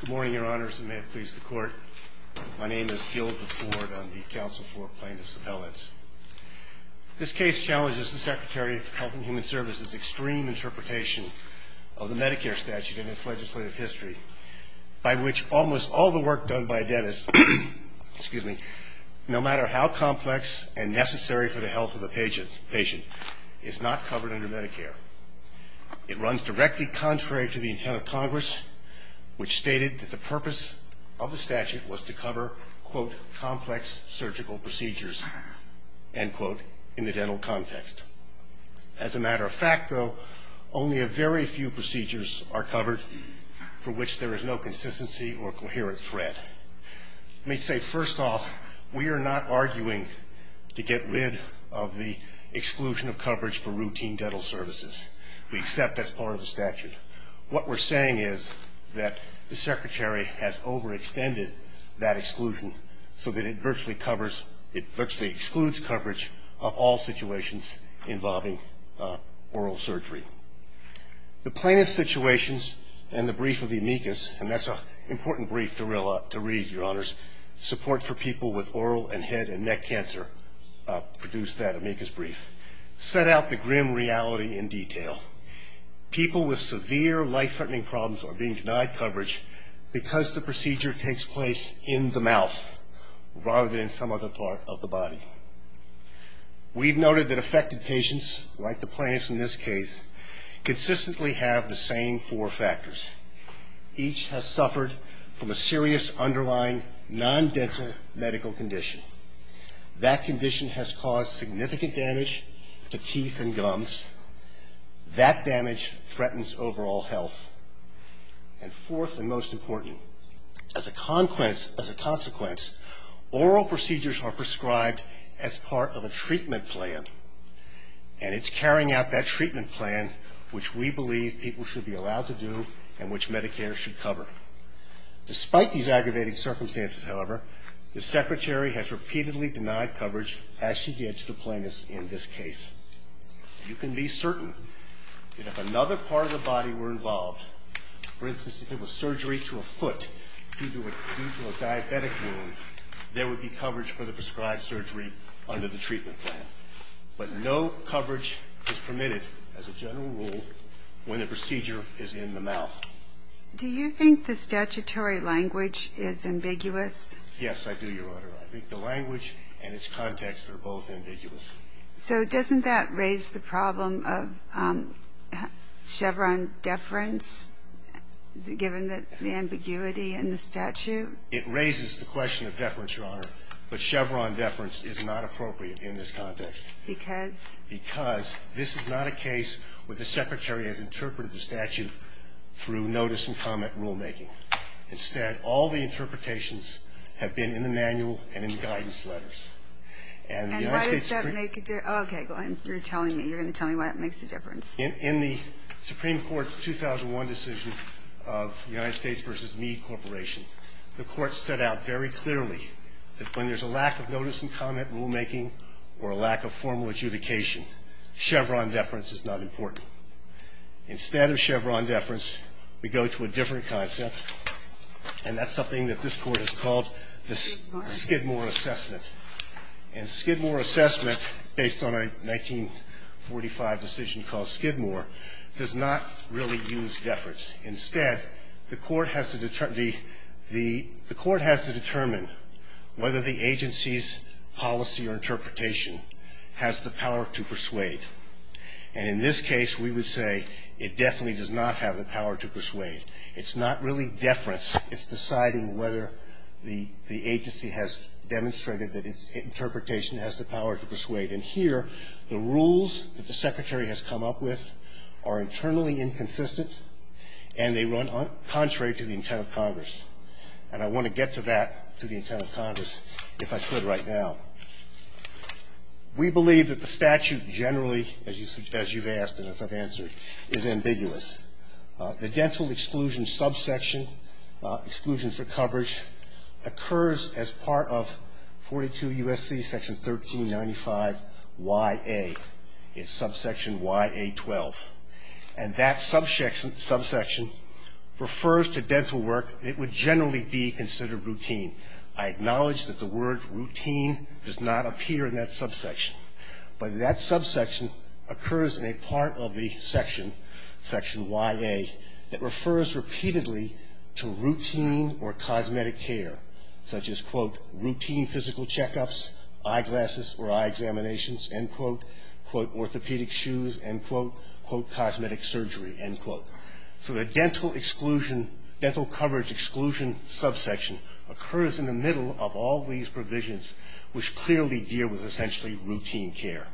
Good morning, your honors, and may it please the court. My name is Gil DeFord. I'm the counsel for plaintiff's appellants. This case challenges the Secretary of Health and Human Services' extreme interpretation of the Medicare statute and its legislative history, by which almost all the work done by a dentist, no matter how complex and necessary for the health of the patient, is not covered under Medicare. It runs directly contrary to the intent of Congress, which stated that the purpose of the statute was to cover, quote, complex surgical procedures, end quote, in the dental context. As a matter of fact, though, only a very few procedures are covered for which there is no consistency or coherent thread. Let me say, first off, we are not arguing to get rid of the exclusion of coverage for routine dental services. We accept that's part of the statute. What we're saying is that the Secretary has overextended that exclusion so that it virtually covers, it virtually excludes coverage of all situations involving oral surgery. The plaintiff's situations and the brief of the amicus, and that's an important brief to read, Your Honors, support for people with oral and head and neck cancer produced that amicus brief, set out the grim reality in detail. People with severe life-threatening problems are being denied coverage because the procedure takes place in the mouth, rather than in some other part of the body. We've noted that affected patients, like the plaintiffs in this case, consistently have the same four factors. Each has suffered from a serious underlying non-dental medical condition. That condition has caused significant damage to teeth and gums. That damage threatens overall health. And fourth and most important, as a consequence, oral procedures are prescribed as part of a treatment plan, and it's carrying out that treatment plan, which we believe people should be allowed to do and which Medicare should cover. Despite these aggravating circumstances, however, the Secretary has repeatedly denied coverage, as she did to the plaintiffs in this case. You can be certain that if another part of the body were involved, for instance, if it was surgery to a foot due to a diabetic wound, there would be coverage for the prescribed surgery under the treatment plan. But no coverage is permitted, as a general rule, when the procedure is in the mouth. Do you think the statutory language is ambiguous? Yes, I do, Your Honor. I think the language and its context are both ambiguous. So doesn't that raise the problem of Chevron deference, given the ambiguity in the statute? It raises the question of deference, Your Honor, but Chevron deference is not appropriate in this context. Because? Because this is not a case where the Secretary has interpreted the statute through notice and comment rulemaking. Instead, all the interpretations have been in the manual and in the guidance letters. And why does that make a difference? Okay, you're telling me. You're going to tell me why that makes a difference. In the Supreme Court's 2001 decision of the United States v. Meade Corporation, the Court set out very clearly that when there's a lack of notice and comment rulemaking or a lack of formal adjudication, Chevron deference is not important. Instead of Chevron deference, we go to a different concept, and that's something that this Court has called the Skidmore assessment. And Skidmore assessment, based on a 1945 decision called Skidmore, does not really use deference. Instead, the Court has to determine whether the agency's policy or interpretation has the power to persuade. And in this case, we would say it definitely does not have the power to persuade. It's not really deference. It's deciding whether the agency has demonstrated that its interpretation has the power to persuade. And here, the rules that the Secretary has come up with are internally inconsistent, and they run contrary to the intent of Congress. And I want to get to that, to the intent of Congress, if I could right now. We believe that the statute generally, as you've asked and as I've answered, is ambiguous. The dental exclusion subsection, exclusion for coverage, occurs as part of 42 U.S.C. section 1395YA. It's subsection YA12. And that subsection refers to dental work. It would generally be considered routine. I acknowledge that the word routine does not appear in that subsection, but that subsection occurs in a part of the section, section YA, that refers repeatedly to routine or cosmetic care, such as, quote, routine physical checkups, eyeglasses or eye examinations, end quote, quote, orthopedic shoes, end quote, quote, cosmetic surgery, end quote. So the dental exclusion, dental coverage exclusion subsection occurs in the middle of all these provisions, which clearly deal with essentially routine care.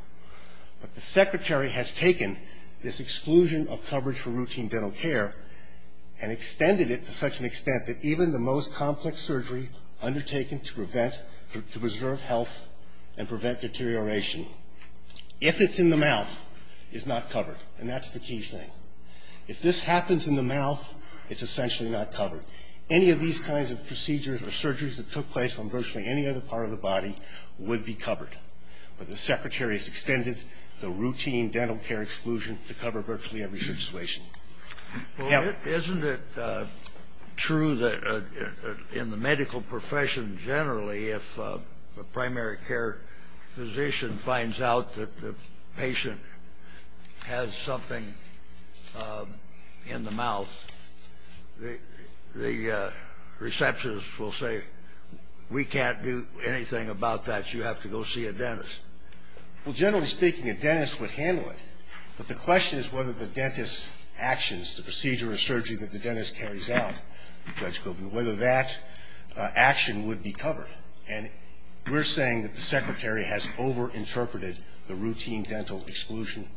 But the Secretary has taken this exclusion of coverage for routine dental care and extended it to such an extent that even the most complex surgery undertaken to prevent, to preserve health and prevent deterioration, if it's in the mouth, is not covered. And that's the key thing. If this happens in the mouth, it's essentially not covered. Any of these kinds of procedures or surgeries that took place on virtually any other part of the body would be covered. But the Secretary has extended the routine dental care exclusion to cover virtually every situation. Kennedy. Scalia. Well, isn't it true that in the medical profession generally, if a primary care physician finds out that the patient has something in the mouth, the receptionist will say, we can't do anything about that. You have to go see a dentist. Well, generally speaking, a dentist would handle it. But the question is whether the dentist's actions, the procedure or surgery that the dentist carries out, Judge Goldman, whether that action would be covered. And we're saying that the Secretary has overinterpreted the routine dental exclusion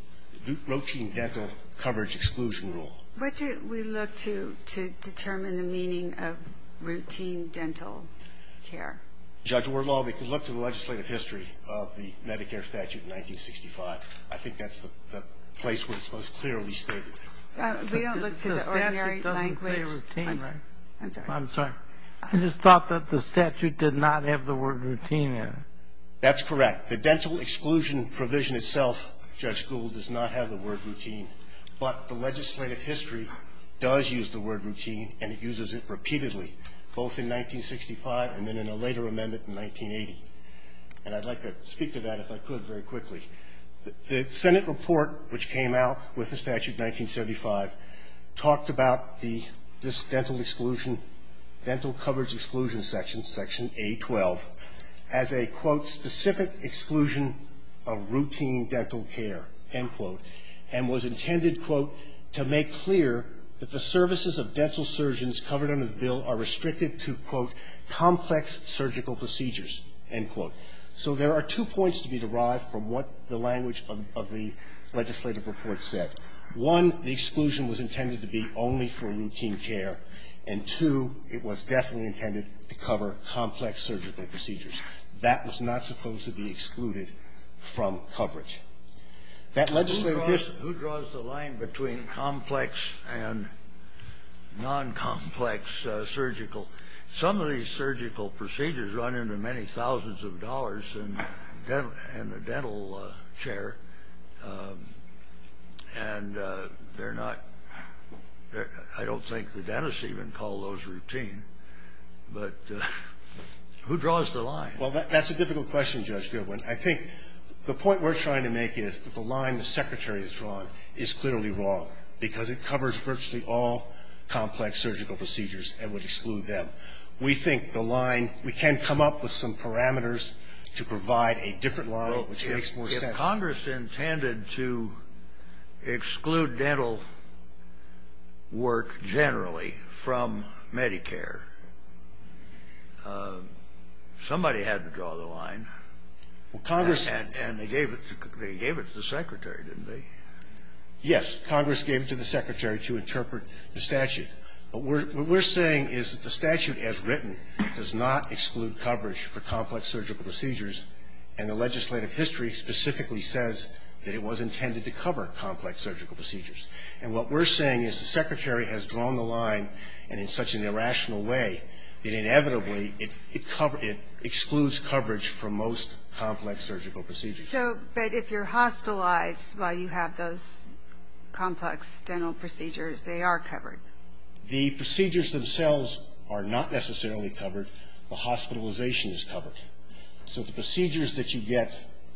routine dental coverage exclusion rule. What do we look to determine the meaning of routine dental care? Judge, we look to the legislative history of the Medicare statute in 1965. I think that's the place where it's most clearly stated. We don't look to the ordinary language. I'm sorry. I just thought that the statute did not have the word routine in it. That's correct. The dental exclusion provision itself, Judge Gould, does not have the word routine. But the legislative history does use the word routine, and it uses it repeatedly, both in 1965 and then in a later amendment in 1980. And I'd like to speak to that, if I could, very quickly. The Senate report which came out with the statute in 1975 talked about this dental exclusion, dental coverage exclusion section, section A12, as a, quote, specific exclusion of routine dental care, end quote, and was intended, quote, to make clear that the services of dental surgeons covered under the bill are restricted to, quote, complex surgical procedures, end quote. So there are two points to be derived from what the language of the legislative report said. One, the exclusion was intended to be only for routine care. And, two, it was definitely intended to cover complex surgical procedures. That was not supposed to be excluded from coverage. That legislative history ---- Who draws the line between complex and non-complex surgical? Some of these surgical procedures run into many thousands of dollars in the dental chair, and they're not ---- I don't think the dentists even call those routine. But who draws the line? Well, that's a difficult question, Judge Goodwin. I think the point we're trying to make is that the line the Secretary has drawn is clearly wrong, because it covers virtually all complex surgical procedures and would exclude them. We think the line we can come up with some parameters to provide a different line which makes more sense. Congress intended to exclude dental work generally from Medicare. Somebody had to draw the line. Well, Congress ---- And they gave it to the Secretary, didn't they? Yes. Congress gave it to the Secretary to interpret the statute. But what we're saying is that the statute as written does not exclude coverage for complex surgical procedures, and the legislative history specifically says that it was intended to cover complex surgical procedures. And what we're saying is the Secretary has drawn the line, and in such an irrational way, that inevitably it excludes coverage for most complex surgical procedures. So, but if you're hospitalized while you have those complex dental procedures, they are covered. The procedures themselves are not necessarily covered. The hospitalization is covered. So the procedures that you get,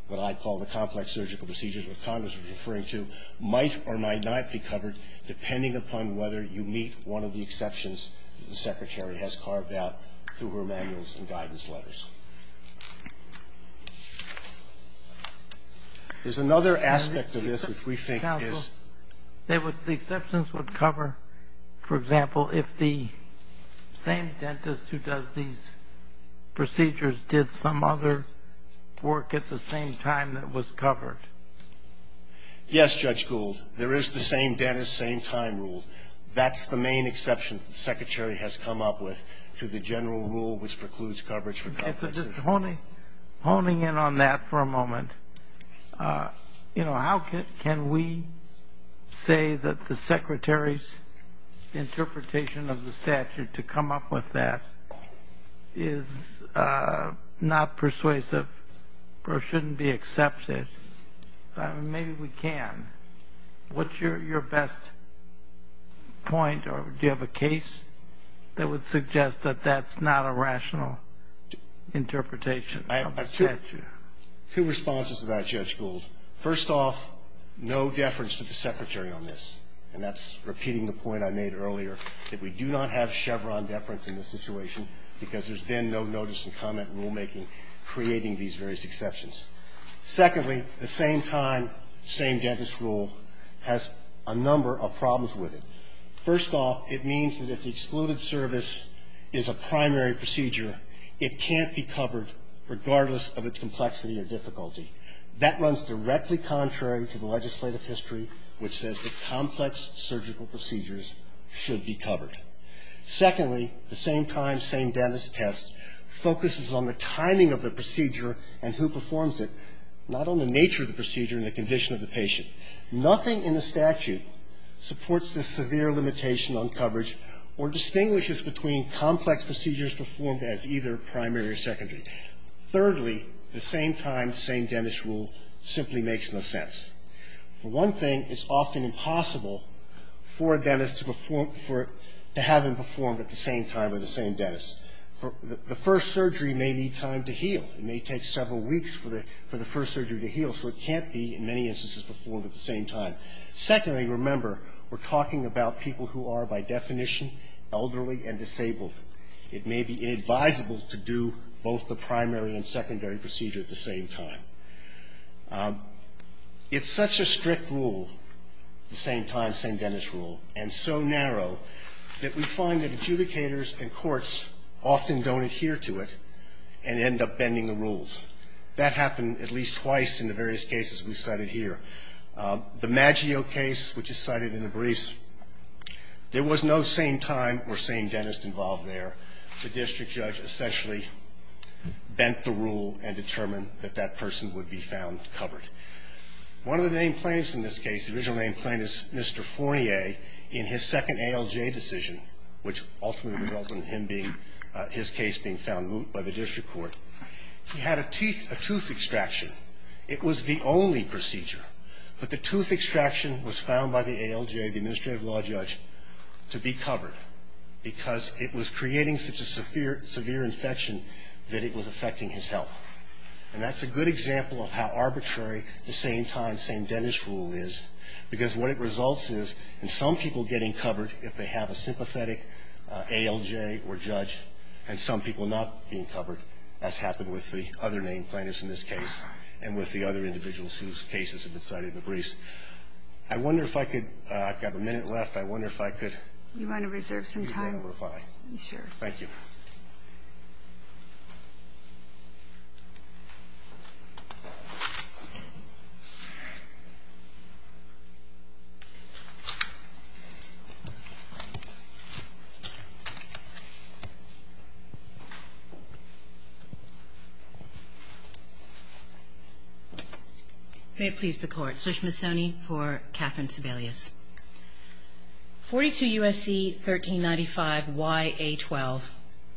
what I call the complex surgical procedures, what Congress was referring to, might or might not be covered depending upon whether you meet one of the exceptions that the Secretary has carved out through her manuals and guidance letters. There's another aspect of this which we think is ---- The exceptions would cover, for example, if the same dentist who does these procedures did some other work at the same time that was covered. Yes, Judge Gould. There is the same dentist, same time rule. That's the main exception that the Secretary has come up with to the general rule which precludes coverage for complex surgery. Honing in on that for a moment, you know, how can we say that the Secretary's interpretation of the statute to come up with that is not persuasive or shouldn't be accepted? I mean, maybe we can. What's your best point? Or do you have a case that would suggest that that's not a rational interpretation of the statute? I have two responses to that, Judge Gould. First off, no deference to the Secretary on this. And that's repeating the point I made earlier that we do not have Chevron deference in this situation because there's been no notice and comment rulemaking creating these various exceptions. Secondly, the same time, same dentist rule has a number of problems with it. First off, it means that if the excluded service is a primary procedure, it can't be covered regardless of its complexity or difficulty. That runs directly contrary to the legislative history, which says that complex surgical procedures should be covered. Secondly, the same time, same dentist test focuses on the timing of the procedure and who performs it, not on the nature of the procedure and the condition of the patient. Nothing in the statute supports the severe limitation on coverage or distinguishes between complex procedures performed as either primary or secondary. Thirdly, the same time, same dentist rule simply makes no sense. For one thing, it's often impossible for a dentist to have them performed at the same time or the same dentist. The first surgery may need time to heal. It may take several weeks for the first surgery to heal, so it can't be in many instances performed at the same time. Secondly, remember, we're talking about people who are, by definition, elderly and disabled. It may be inadvisable to do both the primary and secondary procedure at the same time. It's such a strict rule, the same time, same dentist rule, and so narrow that we find that adjudicators and courts often don't adhere to it and end up bending the rules. That happened at least twice in the various cases we cited here. The Maggio case, which is cited in the briefs, there was no same time or same dentist involved there. The district judge essentially bent the rule and determined that that person would be found covered. One of the name plaintiffs in this case, the original name plaintiff is Mr. Fournier, in his second ALJ decision, which ultimately resulted in him being, his case being found moot by the district court, he had a tooth extraction. It was the only procedure, but the tooth extraction was found by the ALJ, the administrative law judge, to be covered because it was creating such a severe infection that it was affecting his health. And that's a good example of how arbitrary the same time, same dentist rule is because what it results is in some people getting covered, if they have a sympathetic ALJ or judge, and some people not being covered, as happened with the other name plaintiffs in this case and with the other individuals whose cases have been cited in the briefs. I wonder if I could, I've got a minute left, I wonder if I could... You want to reserve some time? Sure. Thank you. May it please the Court. I'm Elizabeth Sushmasoni for Catherine Sebelius. 42 U.S.C. 1395yA12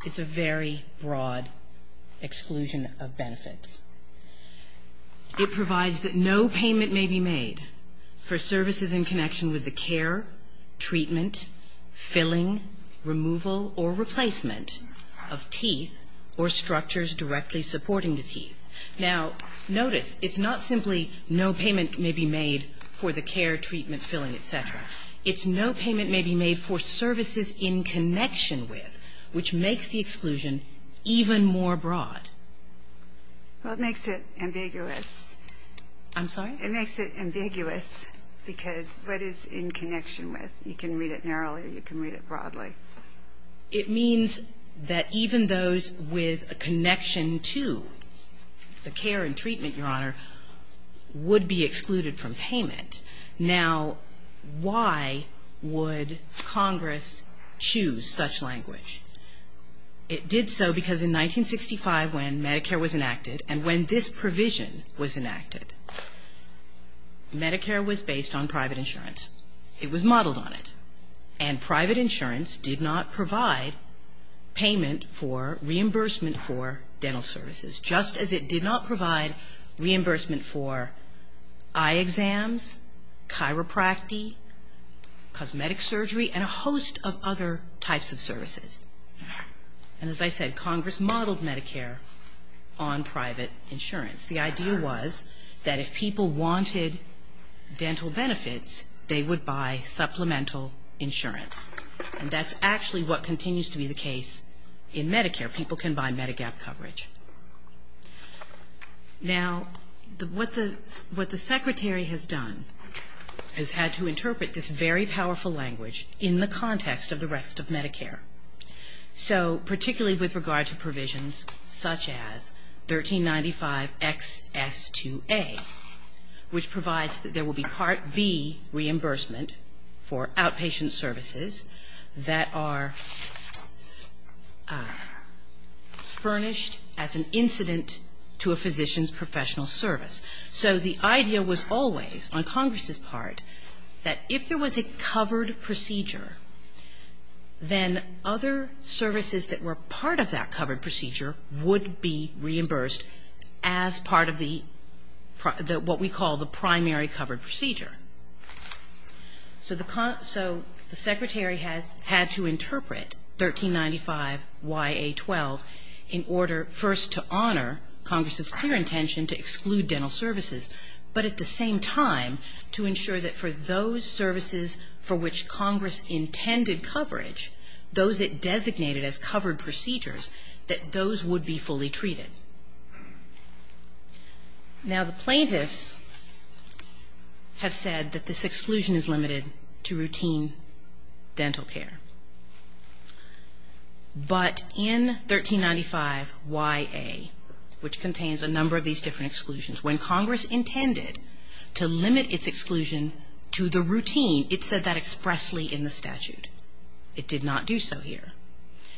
is a very broad exclusion of benefits. It provides that no payment may be made for services in connection with the care, treatment, filling, removal or replacement of teeth or structures directly supporting the teeth. Now, notice, it's not simply no payment may be made for the care, treatment, filling, et cetera. It's no payment may be made for services in connection with, which makes the exclusion even more broad. Well, it makes it ambiguous. I'm sorry? It makes it ambiguous because what is in connection with? You can read it narrowly or you can read it broadly. It means that even those with a connection to the care and treatment, Your Honor, would be excluded from payment. Now, why would Congress choose such language? It did so because in 1965, when Medicare was enacted and when this provision was enacted, Medicare was based on private insurance. It was modeled on it. And private insurance did not provide payment for reimbursement for dental services, just as it did not provide reimbursement for eye exams, chiropractic, cosmetic surgery and a host of other types of services. And as I said, Congress modeled Medicare on private insurance. The idea was that if people wanted dental benefits, they would buy supplemental insurance. And that's actually what continues to be the case in Medicare. People can buy Medigap coverage. Now, what the Secretary has done is had to interpret this very powerful language in the context of the rest of Medicare. So particularly with regard to provisions such as 1395XS2A, which provides that there will be Part B reimbursement for outpatient services that are furnished as an incident to a physician's professional service. So the idea was always, on Congress's part, that if there was a covered procedure, then other services that were part of that covered procedure would be reimbursed as part of the what we call the primary covered procedure. So the Secretary has had to interpret 1395YA12 in order first to honor Congress's clear intention to exclude dental services, but at the same time to ensure that for those services for which Congress intended coverage, those it designated as covered procedures, that those would be fully treated. Now, the plaintiffs have said that this exclusion is limited to routine dental care. But in 1395YA, which contains a number of these different exclusions, when Congress intended to limit its exclusion to the routine, it said that expressly in the statute. It did not do so here.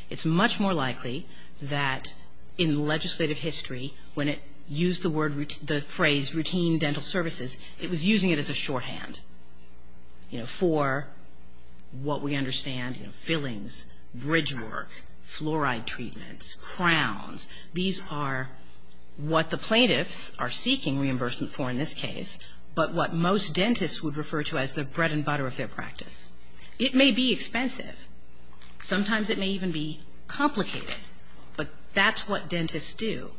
It's much more likely that in legislative history, when it used the phrase routine dental services, it was using it as a shorthand, you know, for what we understand, fillings, bridge work, fluoride treatments, crowns. These are what the plaintiffs are seeking reimbursement for in this case, but what most dentists would refer to as the bread and butter of their practice. It may be expensive. Sometimes it may even be complicated. But that's what dentists do.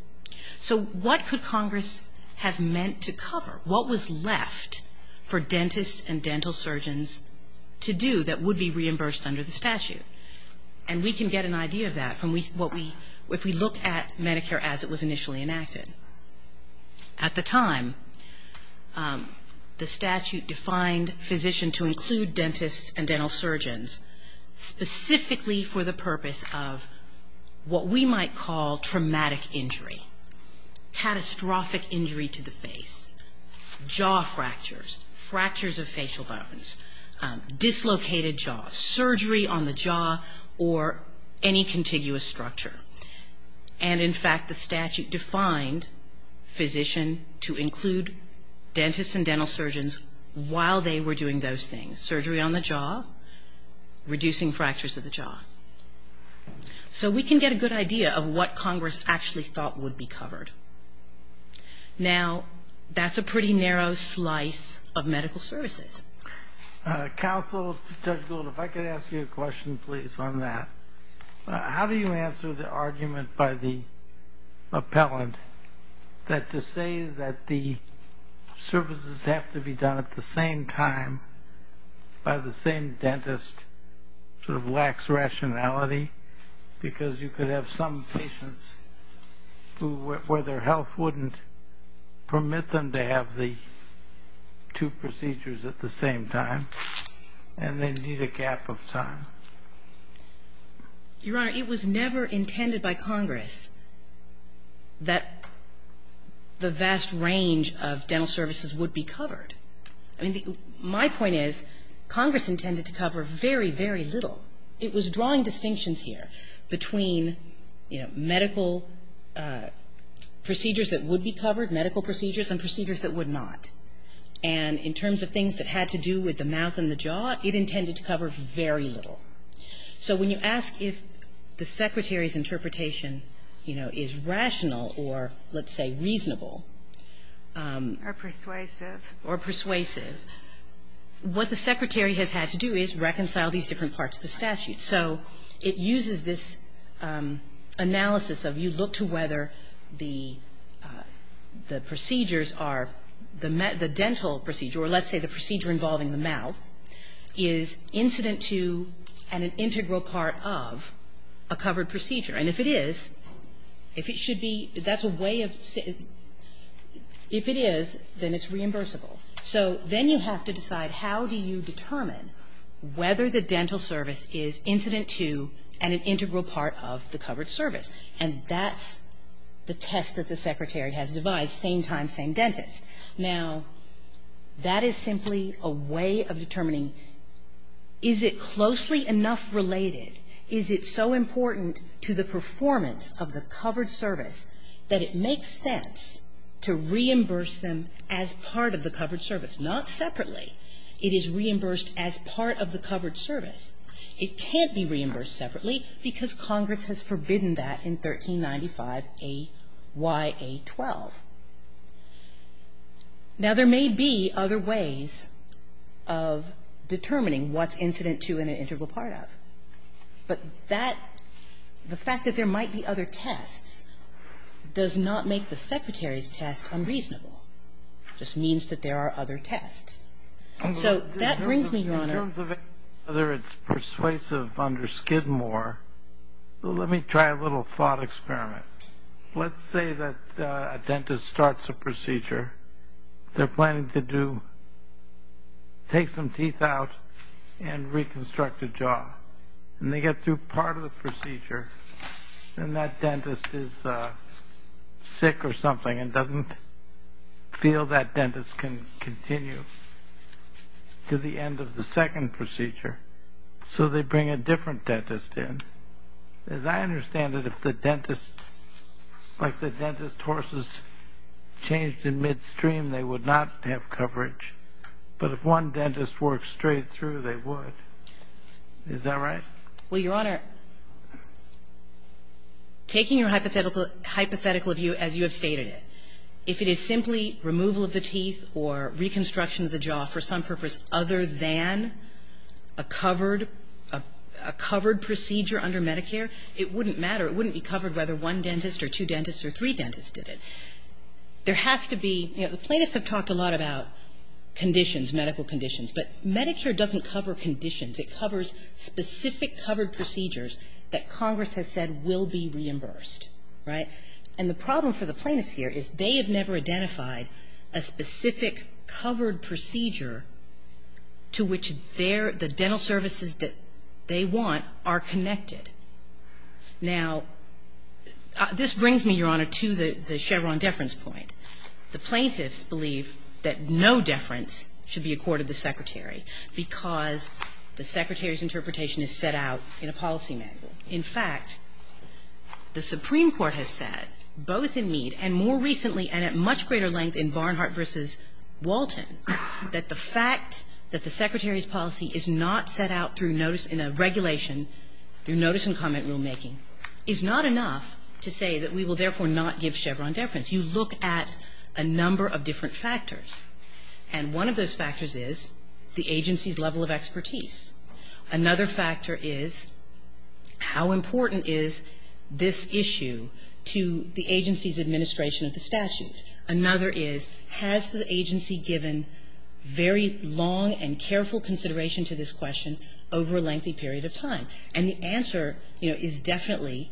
So what could Congress have meant to cover? What was left for dentists and dental surgeons to do that would be reimbursed under the statute? And we can get an idea of that if we look at Medicare as it was initially enacted. At the time, the statute defined physician to include dentists and dental surgeons specifically for the purpose of what we might call traumatic injury, catastrophic injury to the face, jaw fractures, fractures of facial bones, dislocated jaws, surgery on the jaw, or any contiguous structure. And, in fact, the statute defined physician to include dentists and dental surgeons while they were doing those things, surgery on the jaw, reducing fractures of the jaw. So we can get a good idea of what Congress actually thought would be covered. Now, that's a pretty narrow slice of medical services. Counsel, Judge Gould, if I could ask you a question, please, on that. How do you answer the argument by the appellant that to say that the services have to be done at the same time by the same dentist sort of lacks rationality because you could have some patients where their health wouldn't permit them to have the two procedures at the same time and they need a gap of time? Your Honor, it was never intended by Congress that the vast range of dental services would be covered. I mean, my point is Congress intended to cover very, very little. It was drawing distinctions here between, you know, medical procedures that would be covered, medical procedures, and procedures that would not. And in terms of things that had to do with the mouth and the jaw, it intended to cover very little. So when you ask if the Secretary's interpretation, you know, is rational or, let's say, reasonable. Or persuasive. Or persuasive. What the Secretary has had to do is reconcile these different parts of the statute. So it uses this analysis of you look to whether the procedures are the dental procedure or, let's say, the procedure involving the mouth is incident to and an integral part of a covered procedure. And if it is, if it should be, that's a way of ‑‑ if it is, then it's reimbursable. So then you have to decide how do you determine whether the dental service is incident to and an integral part of the covered service. And that's the test that the Secretary has devised, same time, same dentist. Now, that is simply a way of determining is it closely enough related, is it so important to the performance of the covered service that it makes sense to reimburse them as part of the covered service. Not separately. It is reimbursed as part of the covered service. It can't be reimbursed separately because Congress has forbidden that in 1395 A.Y.A.12. Now, there may be other ways of determining what's incident to and an integral part of. But that, the fact that there might be other tests does not make the Secretary's test unreasonable. It just means that there are other tests. So that brings me, Your Honor. In terms of whether it's persuasive under Skidmore, let me try a little thought experiment. Let's say that a dentist starts a procedure. They're planning to do, take some teeth out and reconstruct a jaw. And they get through part of the procedure and that dentist is sick or something and doesn't feel that dentist can continue to the end of the second procedure. So they bring a different dentist in. As I understand it, if the dentist, like the dentist horses changed in midstream, they would not have coverage. But if one dentist works straight through, they would. Is that right? Well, Your Honor, taking your hypothetical view as you have stated it, if it is simply removal of the teeth or reconstruction of the jaw for some purpose other than a covered procedure under Medicare, it wouldn't matter. It wouldn't be covered whether one dentist or two dentists or three dentists did it. There has to be, you know, the plaintiffs have talked a lot about conditions, medical conditions. But Medicare doesn't cover conditions. It covers specific covered procedures that Congress has said will be reimbursed, right? And the problem for the plaintiffs here is they have never identified a specific covered procedure to which their – the dental services that they want are connected. Now, this brings me, Your Honor, to the Chevron deference point. The plaintiffs believe that no deference should be accorded the Secretary because the Secretary's interpretation is set out in a policy manual. In fact, the Supreme Court has said, both in Mead and more recently and at much greater length in Barnhart v. Walton, that the fact that the Secretary's policy is not set out through notice in a regulation, through notice and comment rulemaking, is not enough to say that we will therefore not give Chevron deference. You look at a number of different factors, and one of those factors is the agency's level of expertise. Another factor is how important is this issue to the agency's administration of the statute? Another is, has the agency given very long and careful consideration to this question over a lengthy period of time? And the answer, you know, is definitely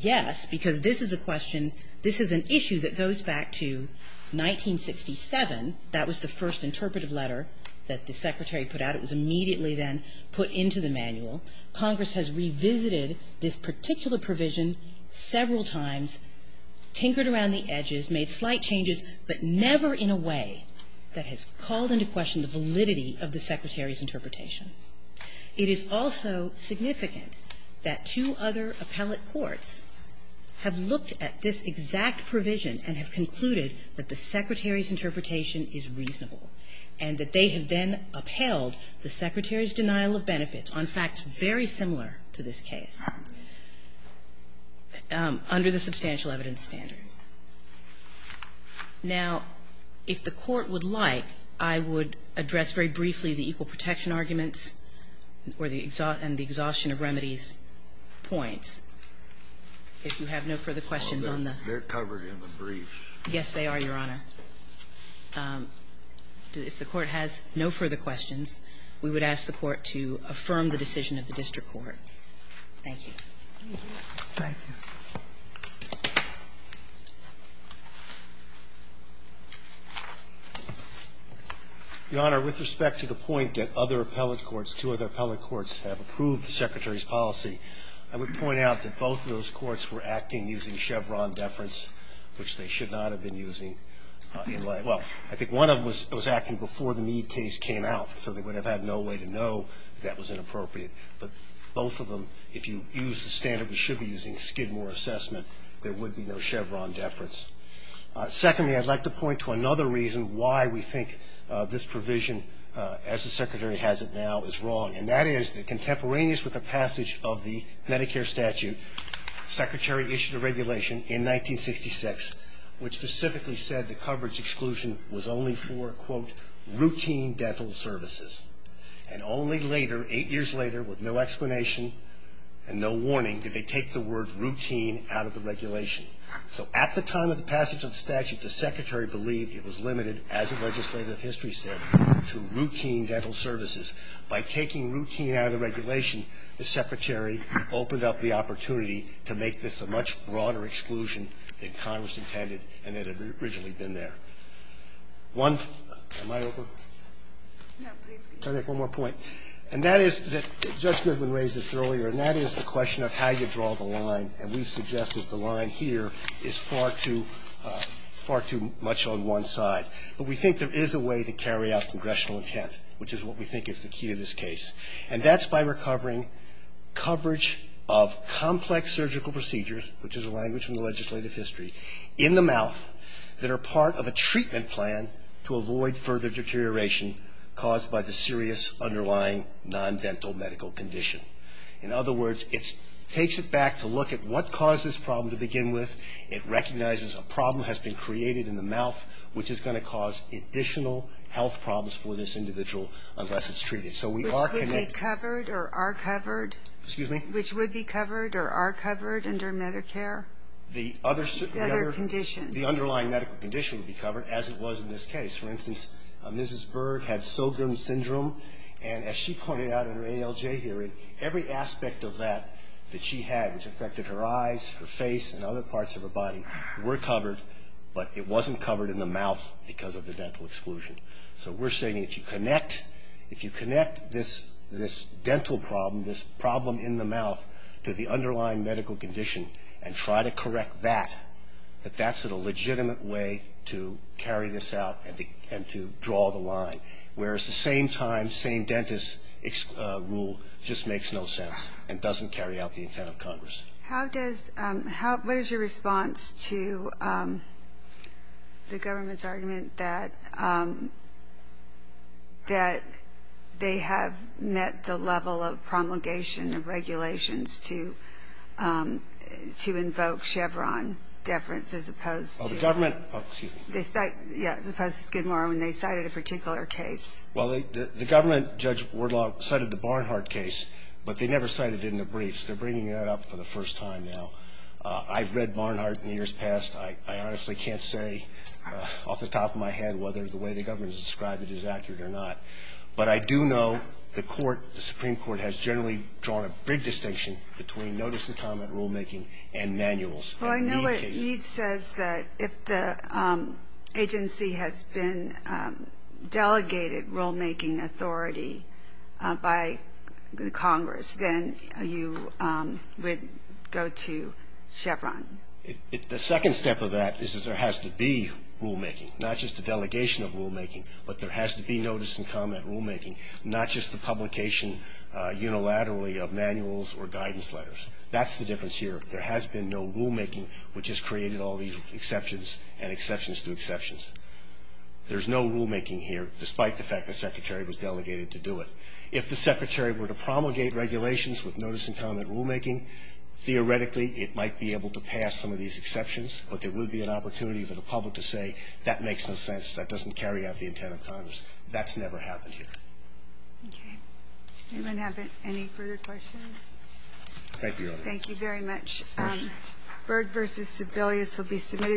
yes, because this is a question – this is an issue that goes back to 1967. That was the first interpretive letter that the Secretary put out. It was immediately then put into the manual. Congress has revisited this particular provision several times, tinkered around the edges, made slight changes, but never in a way that has called into question the validity of the Secretary's interpretation. It is also significant that two other appellate courts have looked at this exact provision and have concluded that the Secretary's interpretation is reasonable and that they have then upheld the Secretary's denial of benefits on facts very similar to this case under the substantial evidence standard. Now, if the Court would like, I would address very briefly the equal protection arguments and the exhaustion of remedies points, if you have no further questions on the – They're covered in the briefs. Yes, they are, Your Honor. If the Court has no further questions, we would ask the Court to affirm the decision of the district court. Thank you. Thank you. Your Honor, with respect to the point that other appellate courts, two other appellate courts, have approved the Secretary's policy, I would point out that both of those which they should not have been using in – well, I think one of them was acting before the Mead case came out, so they would have had no way to know that that was inappropriate. But both of them, if you use the standard we should be using, Skidmore assessment, there would be no Chevron deference. Secondly, I'd like to point to another reason why we think this provision, as the Secretary has it now, is wrong, and that is that contemporaneous with the passage of 1966, which specifically said the coverage exclusion was only for, quote, routine dental services, and only later, eight years later, with no explanation and no warning, did they take the word routine out of the regulation. So at the time of the passage of the statute, the Secretary believed it was limited, as the legislative history said, to routine dental services. By taking routine out of the regulation, the Secretary opened up the opportunity to make this a much broader exclusion than Congress intended and that had originally been there. One – am I over? No, please be. Okay, one more point. And that is – Judge Goodwin raised this earlier, and that is the question of how you draw the line, and we suggest that the line here is far too – far too much on one side. But we think there is a way to carry out congressional intent, which is what we think is the key to this case. And that's by recovering coverage of complex surgical procedures, which is a language from the legislative history, in the mouth, that are part of a treatment plan to avoid further deterioration caused by the serious underlying non-dental medical condition. In other words, it takes it back to look at what caused this problem to begin with. It recognizes a problem has been created in the mouth, which is going to cause additional health problems for this individual unless it's treated. So we are – Which would be covered or are covered? Excuse me? The other – The other condition. The underlying medical condition would be covered, as it was in this case. For instance, Mrs. Berg had Sogren's syndrome, and as she pointed out in her ALJ hearing, every aspect of that that she had which affected her eyes, her face, and other parts of her body were covered, but it wasn't covered in the mouth because of the dental exclusion. So we're saying if you connect – if you connect this dental problem, this problem in the mouth to the underlying medical condition and try to correct that, that that's a legitimate way to carry this out and to draw the line, whereas the same-time, same-dentist rule just makes no sense and doesn't carry out the intent of Congress. How does – what is your response to the government's argument that they have met the level of promulgation of regulations to – to invoke Chevron deference as opposed to – Oh, the government – oh, excuse me. They cite – yeah, as opposed to Skidmore when they cited a particular case? Well, the government, Judge Wardlaw, cited the Barnhart case, but they never cited it in the briefs. They're bringing that up for the first time now. I've read Barnhart in years past. I honestly can't say off the top of my head whether the way the government has described it is accurate or not. But I do know the court, the Supreme Court, has generally drawn a big distinction between notice-and-comment rulemaking and manuals in the EADS case. Well, I know what EADS says, that if the agency has been delegated rulemaking authority by Congress, then you would go to Chevron. The second step of that is that there has to be rulemaking, not just the delegation of rulemaking, but there has to be notice-and-comment rulemaking, not just the publication unilaterally of manuals or guidance letters. That's the difference here. There has been no rulemaking which has created all these exceptions and exceptions to exceptions. There's no rulemaking here, despite the fact the Secretary was delegated to do it. If the Secretary were to promulgate regulations with notice-and-comment rulemaking, theoretically it might be able to pass some of these exceptions, but there would be an opportunity for the public to say, that makes no sense, that doesn't carry out the intent of Congress. That's never happened here. Okay. Anyone have any further questions? Thank you, Your Honor. Thank you very much. Thank you. Byrd v. Sebelius will be submitted.